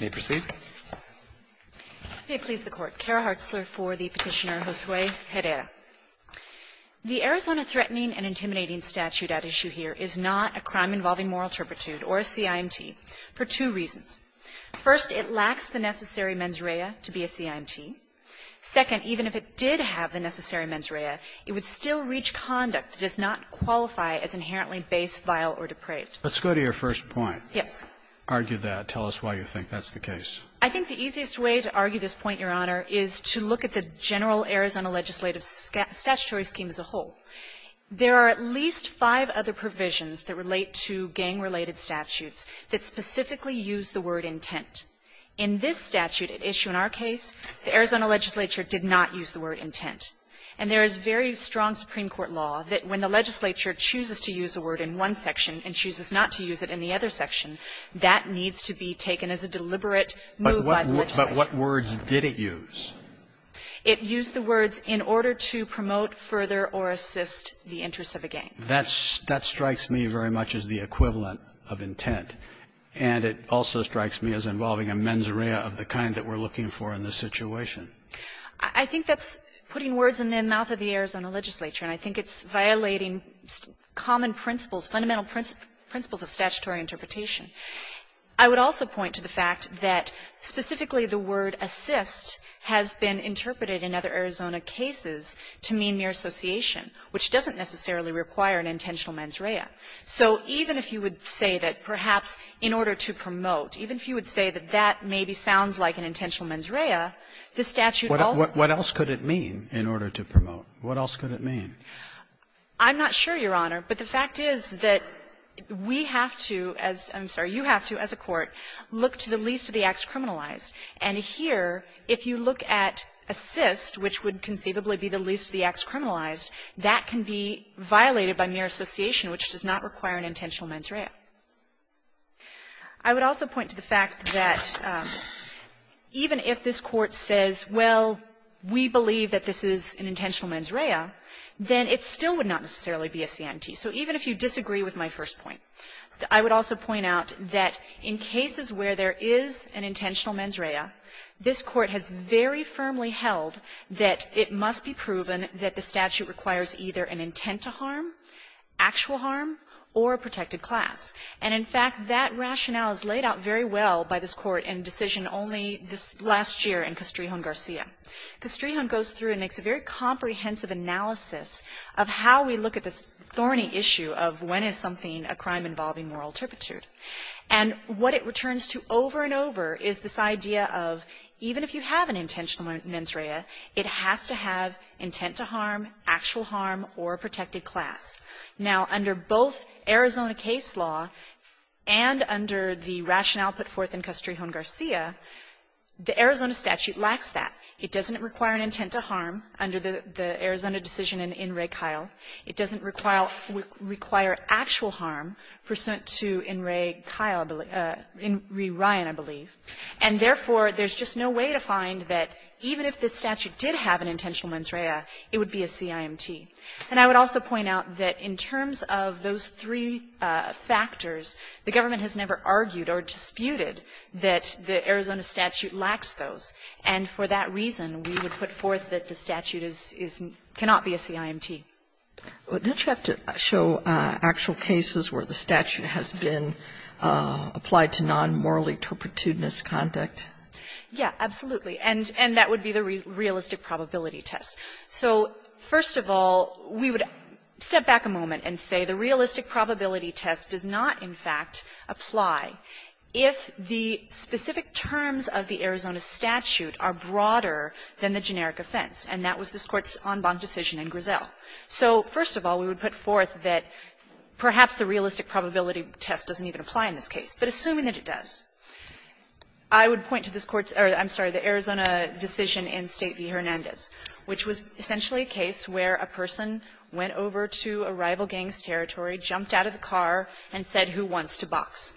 May it please the Court, Kara Hartzler for the Petitioner Josue Herrera. The Arizona Threatening and Intimidating Statute at issue here is not a crime involving moral turpitude or a CIMT for two reasons. First, it lacks the necessary mens rea to be a CIMT. Second, even if it did have the necessary mens rea, it would still reach conduct that does not qualify as inherently base, vile, or depraved. Let's go to your first point. Yes. Argue that. Tell us why you think that's the case. I think the easiest way to argue this point, Your Honor, is to look at the general Arizona legislative statutory scheme as a whole. There are at least five other provisions that relate to gang-related statutes that specifically use the word intent. In this statute at issue in our case, the Arizona legislature did not use the word intent. And there is very strong Supreme Court law that when the legislature chooses to use a word in one section and chooses not to use it in the other section, that needs to be taken as a deliberate move by the legislature. But what words did it use? It used the words, in order to promote, further, or assist the interests of a gang. That strikes me very much as the equivalent of intent, and it also strikes me as involving a mens rea of the kind that we're looking for in this situation. I think that's putting words in the mouth of the Arizona legislature, and I think it's violating common principles, fundamental principles of statutory interpretation. I would also point to the fact that specifically the word assist has been interpreted in other Arizona cases to mean mere association, which doesn't necessarily require an intentional mens rea. So even if you would say that perhaps in order to promote, even if you would say that that maybe sounds like an intentional mens rea, the statute also needs to promote. Robertson, what else could it mean, in order to promote? What else could it mean? I'm not sure, Your Honor, but the fact is that we have to, as you have to as a court, look to the least of the acts criminalized. And here, if you look at assist, which would conceivably be the least of the acts criminalized, that can be violated by mere association, which does not require an intentional mens rea. I would also point to the fact that even if this Court says, well, we believe that this is an intentional mens rea, then it still would not necessarily be a CIMT. So even if you disagree with my first point, I would also point out that in cases where there is an intentional mens rea, this Court has very firmly held that it must be proven that the statute requires either an intent to harm, actual harm, or a protected class. And, in fact, that rationale is laid out very well by this Court in decision only this last year in Castrijon-Garcia. Castrijon goes through and makes a very comprehensive analysis of how we look at this thorny issue of when is something, a crime involving moral turpitude. And what it returns to over and over is this idea of even if you have an intentional mens rea, it has to have intent to harm, actual harm, or a protected class. Now, under both Arizona case law and under the rationale put forth in Castrijon-Garcia, the Arizona statute lacks that. It doesn't require an intent to harm under the Arizona decision in In re Kyle. It doesn't require actual harm pursuant to In re Kyle or In re Ryan, I believe. And, therefore, there's just no way to find that even if this statute did have an intentional mens rea, it would be a CIMT. And I would also point out that in terms of those three factors, the government has never argued or disputed that the Arizona statute lacks those. And for that reason, we would put forth that the statute is not, cannot be a CIMT. Sotomayor, don't you have to show actual cases where the statute has been applied to non-morally turpitudinous conduct? Yeah, absolutely. And that would be the realistic probability test. So, first of all, we would step back a moment and say the realistic probability test does not, in fact, apply if the specific terms of the Arizona statute, are broader than the generic offense. And that was this Court's en banc decision in Griselle. So, first of all, we would put forth that perhaps the realistic probability test doesn't even apply in this case. But assuming that it does, I would point to this Court's or, I'm sorry, the Arizona decision in State v. Hernandez, which was essentially a case where a person went over to a rival gang's territory, jumped out of the car, and said, who wants to box?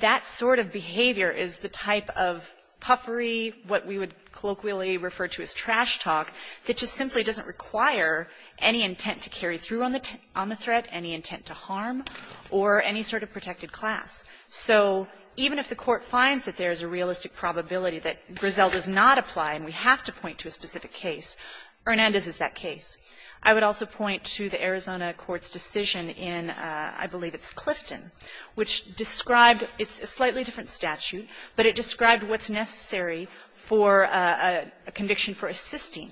That sort of behavior is the type of puffery, what we would colloquially refer to as trash talk, that just simply doesn't require any intent to carry through on the threat, any intent to harm, or any sort of protected class. So even if the Court finds that there's a realistic probability that Griselle does not apply and we have to point to a specific case, Hernandez is that case. I would also point to the Arizona Court's decision in, I believe it's Clifton, which described, it's a slightly different statute, but it described what's necessary for a conviction for assisting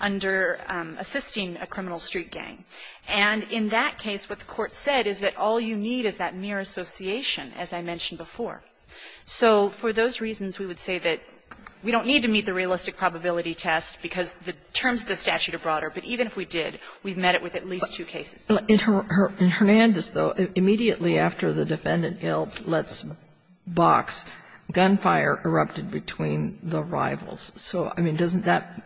under, assisting a criminal street gang. And in that case, what the Court said is that all you need is that mere association, as I mentioned before. So for those reasons, we would say that we don't need to meet the realistic probability test because the terms of the statute are broader, but even if we did, we've met it with at least two cases. Kagan in Hernandez, though, immediately after the defendant held Letts' box, gunfire erupted between the rivals. So, I mean, doesn't that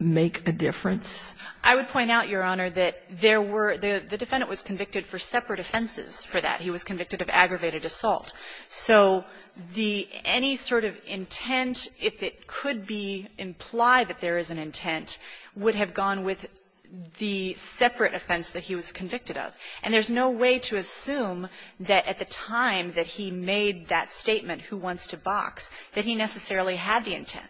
make a difference? I would point out, Your Honor, that there were the defendant was convicted for separate offenses for that. He was convicted of aggravated assault. So the any sort of intent, if it could be implied that there is an intent, would have gone with the separate offense that he was convicted of. And there's no way to assume that at the time that he made that statement, who wants to box, that he necessarily had the intent.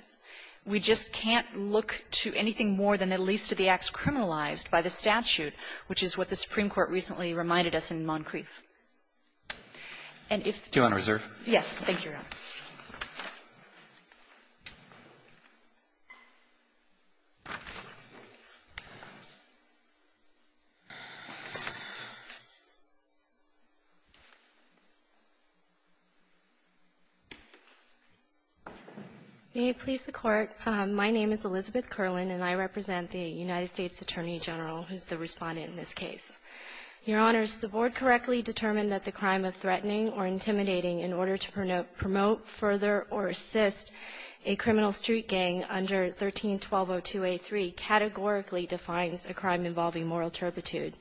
We just can't look to anything more than at least to the acts criminalized by the statute, which is what the Supreme Court recently reminded us in Moncrief. And if you're on reserve. Yes. Thank you, Your Honor. May it please the Court. My name is Elizabeth Kerlin, and I represent the United States Attorney General who is the Respondent in this case. Your Honors, the Board correctly determined that the crime of threatening or intimidating in order to promote, further, or assist a criminal street gang under 13-1202a3 categorically defines a crime involving moral turpitude,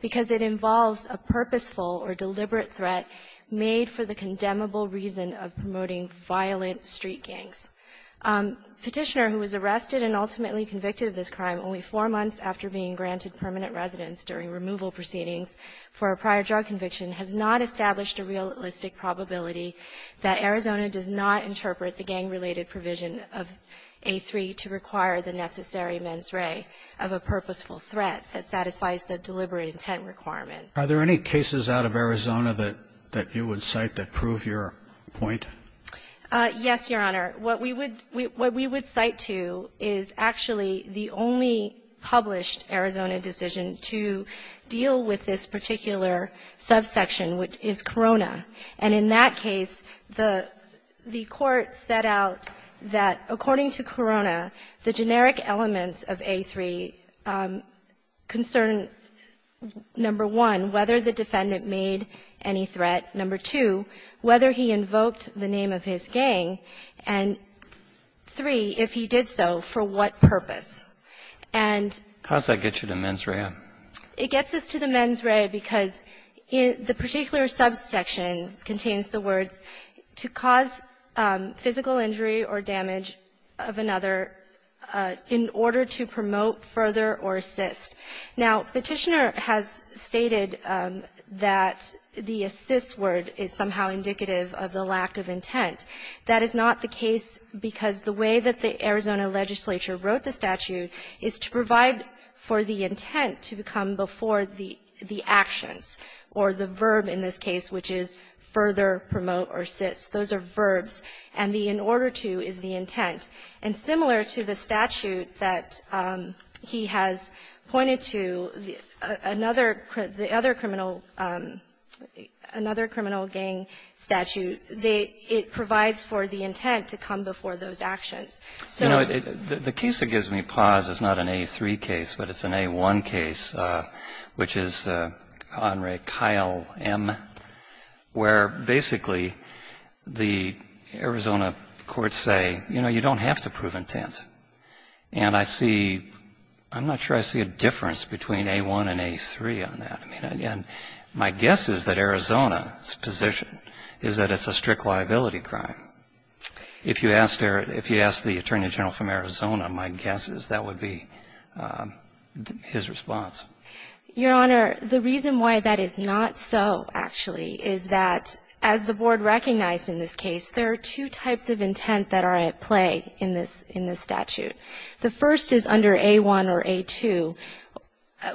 because it involves a purposeful or deliberate threat made for the condemnable reason of promoting violent street gangs. Petitioner who was arrested and ultimately convicted of this crime only four months after being granted permanent residence during removal proceedings for a prior drug conviction has not established a realistic probability that Arizona does not interpret the gang-related provision of a3 to require the necessary mens re of a purposeful threat that satisfies the deliberate intent requirement. Are there any cases out of Arizona that you would cite that prove your point? Yes, Your Honor. What we would cite to is actually the only published Arizona decision to deal with this particular subsection, which is Corona. And in that case, the Court set out that, according to Corona, the generic elements of a3 concern, number one, whether the defendant made any threat, number two, whether he invoked the name of his gang, and, three, if he did so, for what purpose. And ---- How does that get you to mens re of? It gets us to the mens re because the particular subsection contains the words, to cause physical injury or damage of another in order to promote further or assist. Now, Petitioner has stated that the assist word is somehow indicative of the lack of intent. That is not the case because the way that the Arizona legislature wrote the statute is to provide for the intent to come before the actions, or the verb in this case, which is further, promote, or assist. Those are verbs. And the in order to is the intent. And similar to the statute that he has pointed to, another criminal ---- another criminal gang statute, it provides for the intent to come before those actions. So ---- The piece that gives me pause is not an a3 case, but it's an a1 case, which is Conrad Kyle M, where basically the Arizona courts say, you know, you don't have to prove intent. And I see ---- I'm not sure I see a difference between a1 and a3 on that. I mean, and my guess is that Arizona's position is that it's a strict liability crime. If you ask the Attorney General from Arizona, my guess is that would be his response. Your Honor, the reason why that is not so, actually, is that as the Board recognized in this case, there are two types of intent that are at play in this statute. The first is under a1 or a2,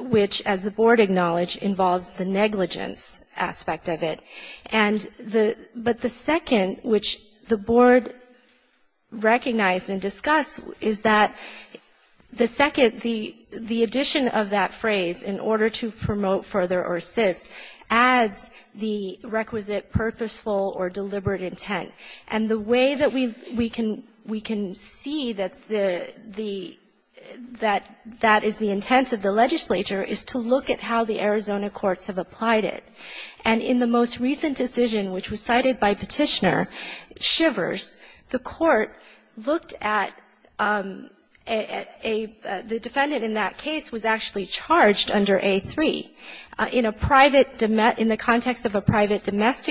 which, as the Board acknowledged, involves the negligence aspect of it. And the ---- but the second, which the Board recognized and discussed, is that the second, the addition of that phrase, in order to promote further or assist, adds the requisite purposeful or deliberate intent. And the way that we can see that the ---- that that is the intent of the legislature is to look at how the Arizona courts have applied it. And in the most recent decision, which was cited by Petitioner, Shivers, the court looked at a ---- the defendant in that case was actually charged under a3 in a private ---- in the context of a private fact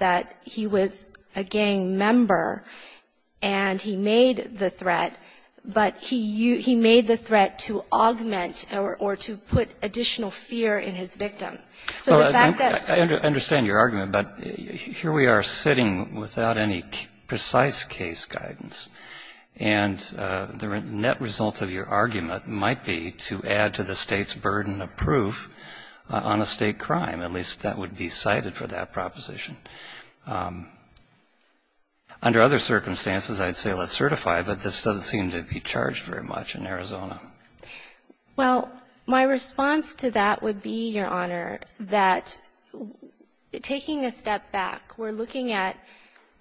that he was a gang member and he made the threat, but he made the threat to augment or to put additional fear in his victim. So the fact that ---- I understand your argument, but here we are sitting without any precise case guidance. And the net result of your argument might be to add to the State's burden of proof on a State crime. At least that would be cited for that proposition. Under other circumstances, I'd say let's certify, but this doesn't seem to be charged very much in Arizona. Well, my response to that would be, Your Honor, that taking a step back, we're looking at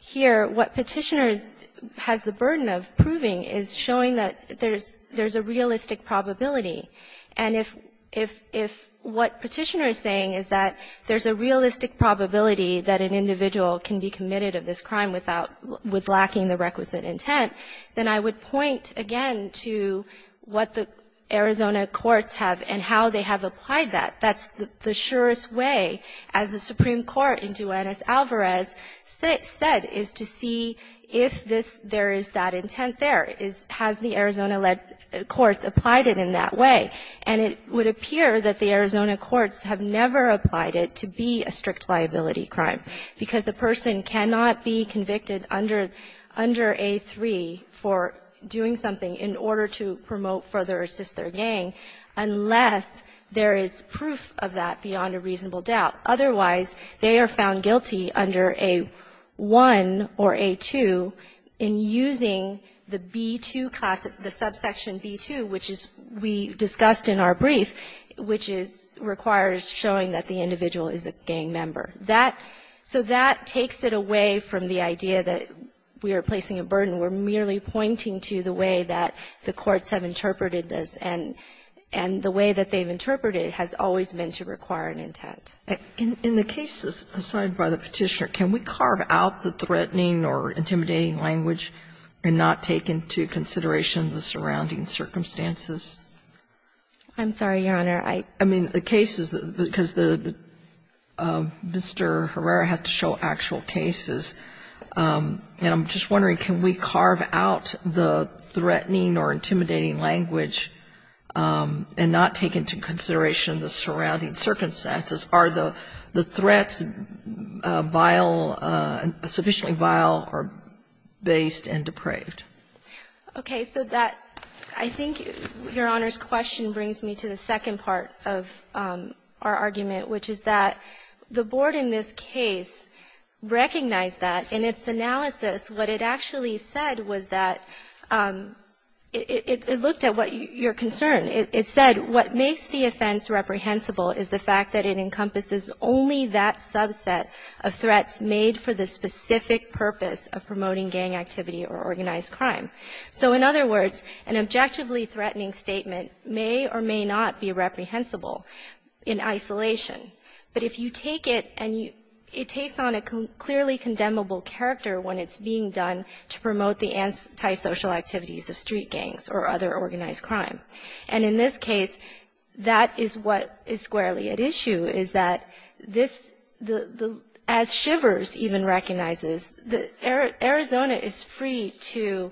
here what Petitioner is ---- has the burden of proving is showing that there's a realistic probability. And if what Petitioner is saying is that there's a realistic probability that an individual can be committed of this crime without ---- with lacking the requisite intent, then I would point, again, to what the Arizona courts have and how they have applied that. That's the surest way, as the Supreme Court in Duenez-Alvarez said, is to see if this ---- there is that intent there. Is ---- has the Arizona-led courts applied it in that way? And it would appear that the Arizona courts have never applied it to be a strict liability crime, because a person cannot be convicted under ---- under A3 for doing something in order to promote further or assist their gang unless there is proof of that beyond a reasonable doubt. Otherwise, they are found guilty under A1 or A2 in using the B2 class of the subsection B2, which is we discussed in our brief, which is ---- requires showing that the individual is a gang member. That ---- so that takes it away from the idea that we are placing a burden. We're merely pointing to the way that the courts have interpreted this, and the way that they've interpreted it has always been to require an intent. In the cases assigned by the Petitioner, can we carve out the threatening or intimidating language and not take into consideration the surrounding circumstances? I'm sorry, Your Honor. I ---- I mean, the cases, because the ---- Mr. Herrera has to show actual cases, and I'm just wondering, can we carve out the threatening or intimidating language and not take into consideration the surrounding circumstances? Are the threats vile, sufficiently vile or based and depraved? Okay. So that ---- I think Your Honor's question brings me to the second part of our argument, which is that the Board in this case recognized that in its analysis what it actually said was that it looked at what your concern. It said what makes the offense reprehensible is the fact that it encompasses only that subset of threats made for the specific purpose of promoting gang activity or organized crime. So in other words, an objectively threatening statement may or may not be reprehensible in isolation, but if you take it and you ---- it takes on a clearly condemnable character when it's being done to promote the antisocial activities of street gangs or other organized crime. And in this case, that is what is squarely at issue, is that this ---- the ---- as Shivers even recognizes, the ---- Arizona is free to ----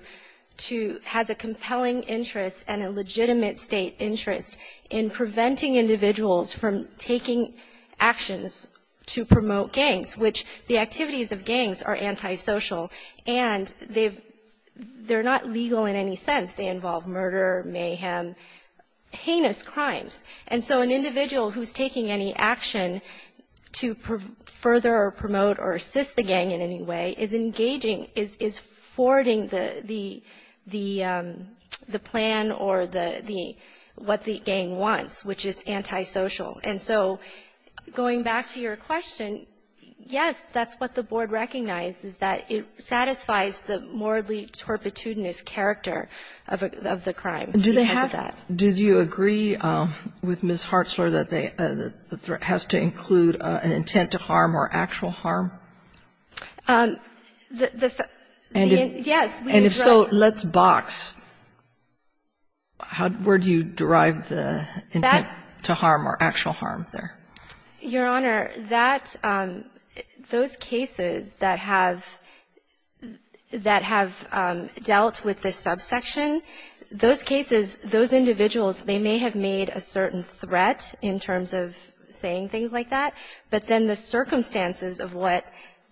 to ---- has a compelling interest and a legitimate State interest in preventing individuals from taking actions to promote gangs, which the activities of gangs are antisocial, and they've ---- they're not legal in any sense. They involve murder, mayhem, heinous crimes. And so an individual who's taking any action to further promote or assist the gang in any way is engaging, is forwarding the ---- the plan or the ---- what the gang wants, which is antisocial. And so going back to your question, yes, that's what the board recognizes, that it satisfies the morally torpitudinous character of the crime because of that. Kagan. Do they have ---- do you agree with Ms. Hartzler that they ---- that the threat has to include an intent to harm or actual harm? The ---- yes. And if so, let's box. How ---- where do you derive the intent to harm or actual harm there? Your Honor, that ---- those cases that have ---- that have dealt with this subsection, those cases, those individuals, they may have made a certain threat in terms of saying things like that, but then the circumstances of what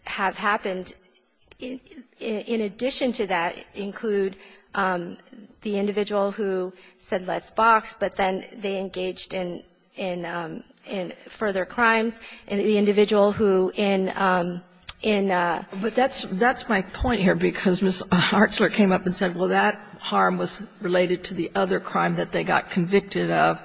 have happened in addition to that include the individual who said, let's box, but then they engaged in ---- in further crimes, and the individual who in ---- in ---- But that's my point here, because Ms. Hartzler came up and said, well, that harm was related to the other crime that they got convicted of,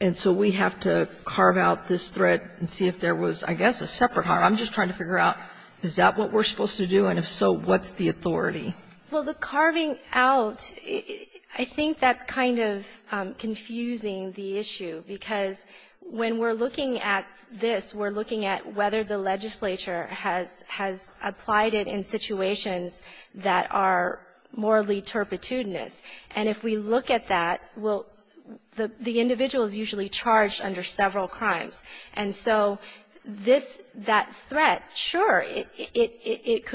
and so we have to carve out this threat and see if there was, I guess, a separate harm. I'm just trying to figure out, is that what we're supposed to do, and if so, what's the authority? Well, the carving out, I think that's kind of confusing the issue, because when we're looking at this, we're looking at whether the legislature has ---- has applied it in situations that are morally turpitude-ness. And if we look at that, we'll ---- the individual is usually charged under several crimes. And so this ---- that threat, sure, it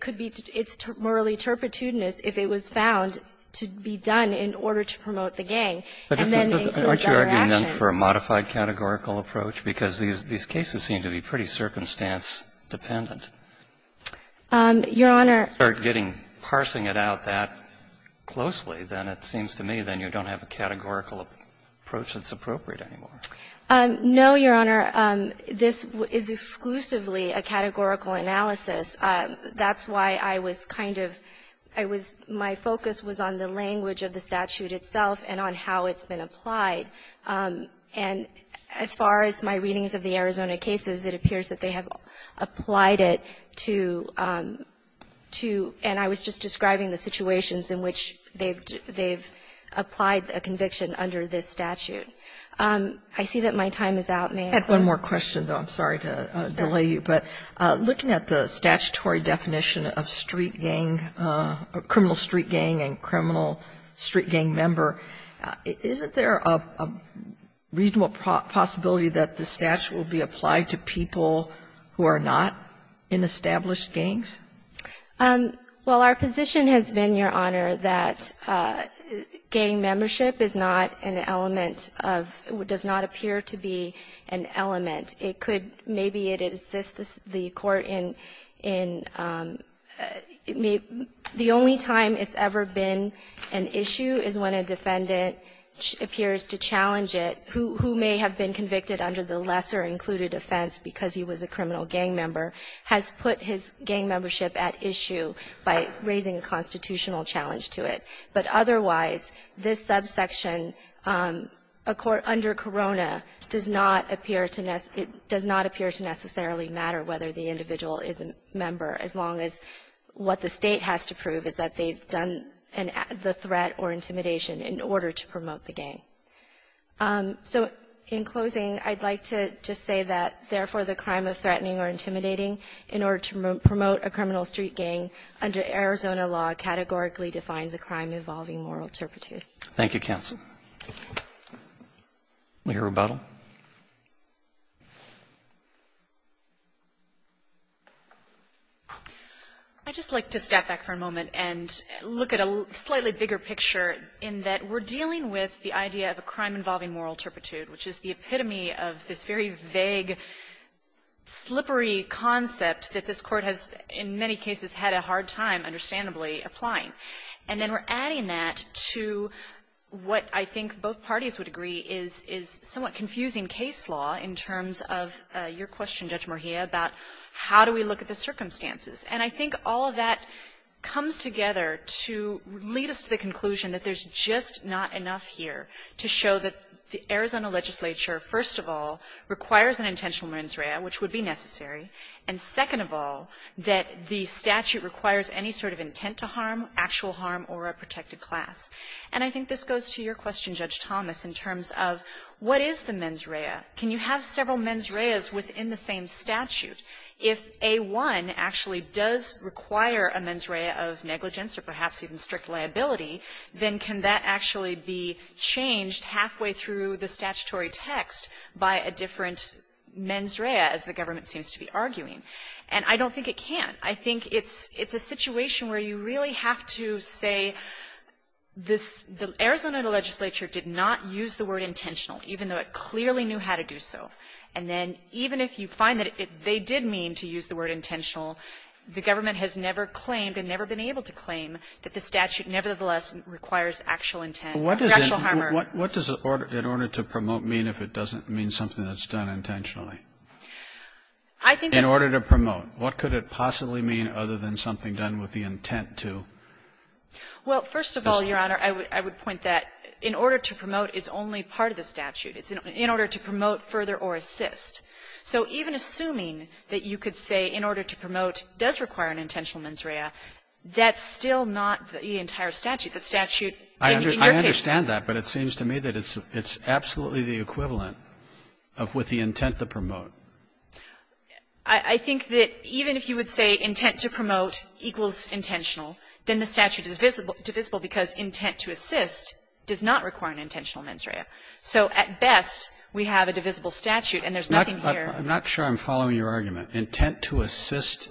could be ---- it's morally turpitude-ness if it was found to be done in order to promote the gang, and then they include other actions. But aren't you arguing then for a modified categorical approach? Because these cases seem to be pretty circumstance-dependent. Your Honor ---- If you start getting ---- parsing it out that closely, then it seems to me then you don't have a categorical approach that's appropriate anymore. No, Your Honor. This is exclusively a categorical analysis. That's why I was kind of ---- I was ---- my focus was on the language of the statute itself and on how it's been applied. And as far as my readings of the Arizona cases, it appears that they have applied it to ---- to ---- and I was just describing the situations in which they've ---- they've applied a conviction under this statute. I see that my time is out. May I close? I had one more question, though. I'm sorry to delay you. But looking at the statutory definition of street gang or criminal street gang and criminal street gang member, isn't there a reasonable possibility that the statute will be applied to people who are not in established gangs? Well, our position has been, Your Honor, that gang membership is not an element of ---- does not appear to be an element. It could ---- maybe it insists the court in ---- the only time it's ever been an issue is when a defendant appears to challenge it, who may have been convicted under the lesser included offense because he was a criminal gang member, has put his gang membership at issue by raising a constitutional challenge to it. But otherwise, this subsection, under Corona, does not appear to necessarily matter whether the individual is a member, as long as what the state has to prove is that they've done the threat or intimidation in order to promote the gang. So in closing, I'd like to just say that, therefore, the crime of threatening or intimidating in order to promote a criminal street gang under Arizona law categorically defines a crime involving moral turpitude. Thank you, counsel. Ms. Rebuttal. I'd just like to step back for a moment and look at a slightly bigger picture in that we're dealing with the idea of a crime involving moral turpitude, which is the epitome of this very vague, slippery concept that this Court has in many cases had a hard time, understandably, applying. And then we're adding that to what I think both parties would agree is somewhat confusing case law in terms of your question, Judge Moria, about how do we look at the circumstances. And I think all of that comes together to lead us to the conclusion that there's just not enough here to show that the Arizona legislature, first of all, requires an intentional mens rea, which would be necessary, and, second of all, that the statute requires any sort of intent to harm, actual harm, or a protected class. And I think this goes to your question, Judge Thomas, in terms of what is the mens rea? Can you have several mens reas within the same statute? If A-1 actually does require a mens rea of negligence or perhaps even strict liability, then can that actually be changed halfway through the statutory text by a different mens rea, as the government seems to be arguing? And I don't think it can. I think it's a situation where you really have to say the Arizona legislature did not use the word intentional, even though it clearly knew how to do so. And then even if you find that they did mean to use the word intentional, the government has never claimed and never been able to claim that the statute nevertheless requires actual intent or actual harm. Robertson, What does in order to promote mean if it doesn't mean something that's done intentionally? In order to promote. What could it possibly mean other than something done with the intent to? Well, first of all, Your Honor, I would point that in order to promote is only part of the statute. It's in order to promote further or assist. So even assuming that you could say in order to promote does require an intentional mens rea, that's still not the entire statute. The statute in your case. I understand that, but it seems to me that it's absolutely the equivalent of with the intent to promote. I think that even if you would say intent to promote equals intentional, then the statute is divisible because intent to assist does not require an intentional mens rea. So at best, we have a divisible statute, and there's nothing here. I'm not sure I'm following your argument. Intent to assist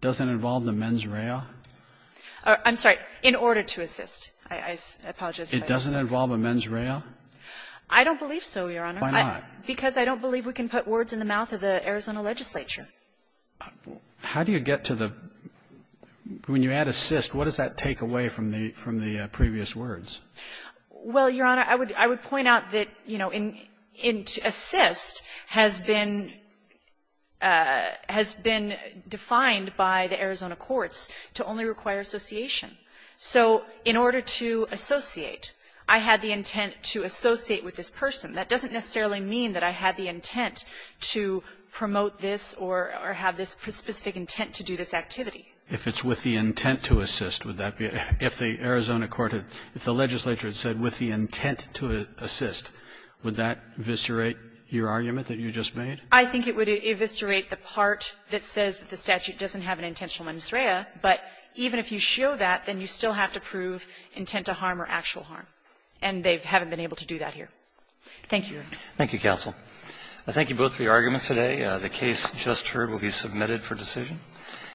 doesn't involve the mens rea? I'm sorry. In order to assist. I apologize. It doesn't involve a mens rea? I don't believe so, Your Honor. Why not? Because I don't believe we can put words in the mouth of the Arizona legislature. How do you get to the – when you add assist, what does that take away from the previous words? Well, Your Honor, I would point out that, you know, in – assist has been – has been defined by the Arizona courts to only require association. So in order to associate, I had the intent to associate with this person. That doesn't necessarily mean that I had the intent to promote this or have this specific intent to do this activity. If it's with the intent to assist, would that be – if the Arizona court had – if the legislature had said with the intent to assist, would that eviscerate your argument that you just made? I think it would eviscerate the part that says that the statute doesn't have an intentional mens rea, but even if you show that, then you still have to prove intent to harm or actual harm. And they haven't been able to do that here. Thank you, Your Honor. Thank you, counsel. I thank you both for your arguments today. The case just heard will be submitted for decision.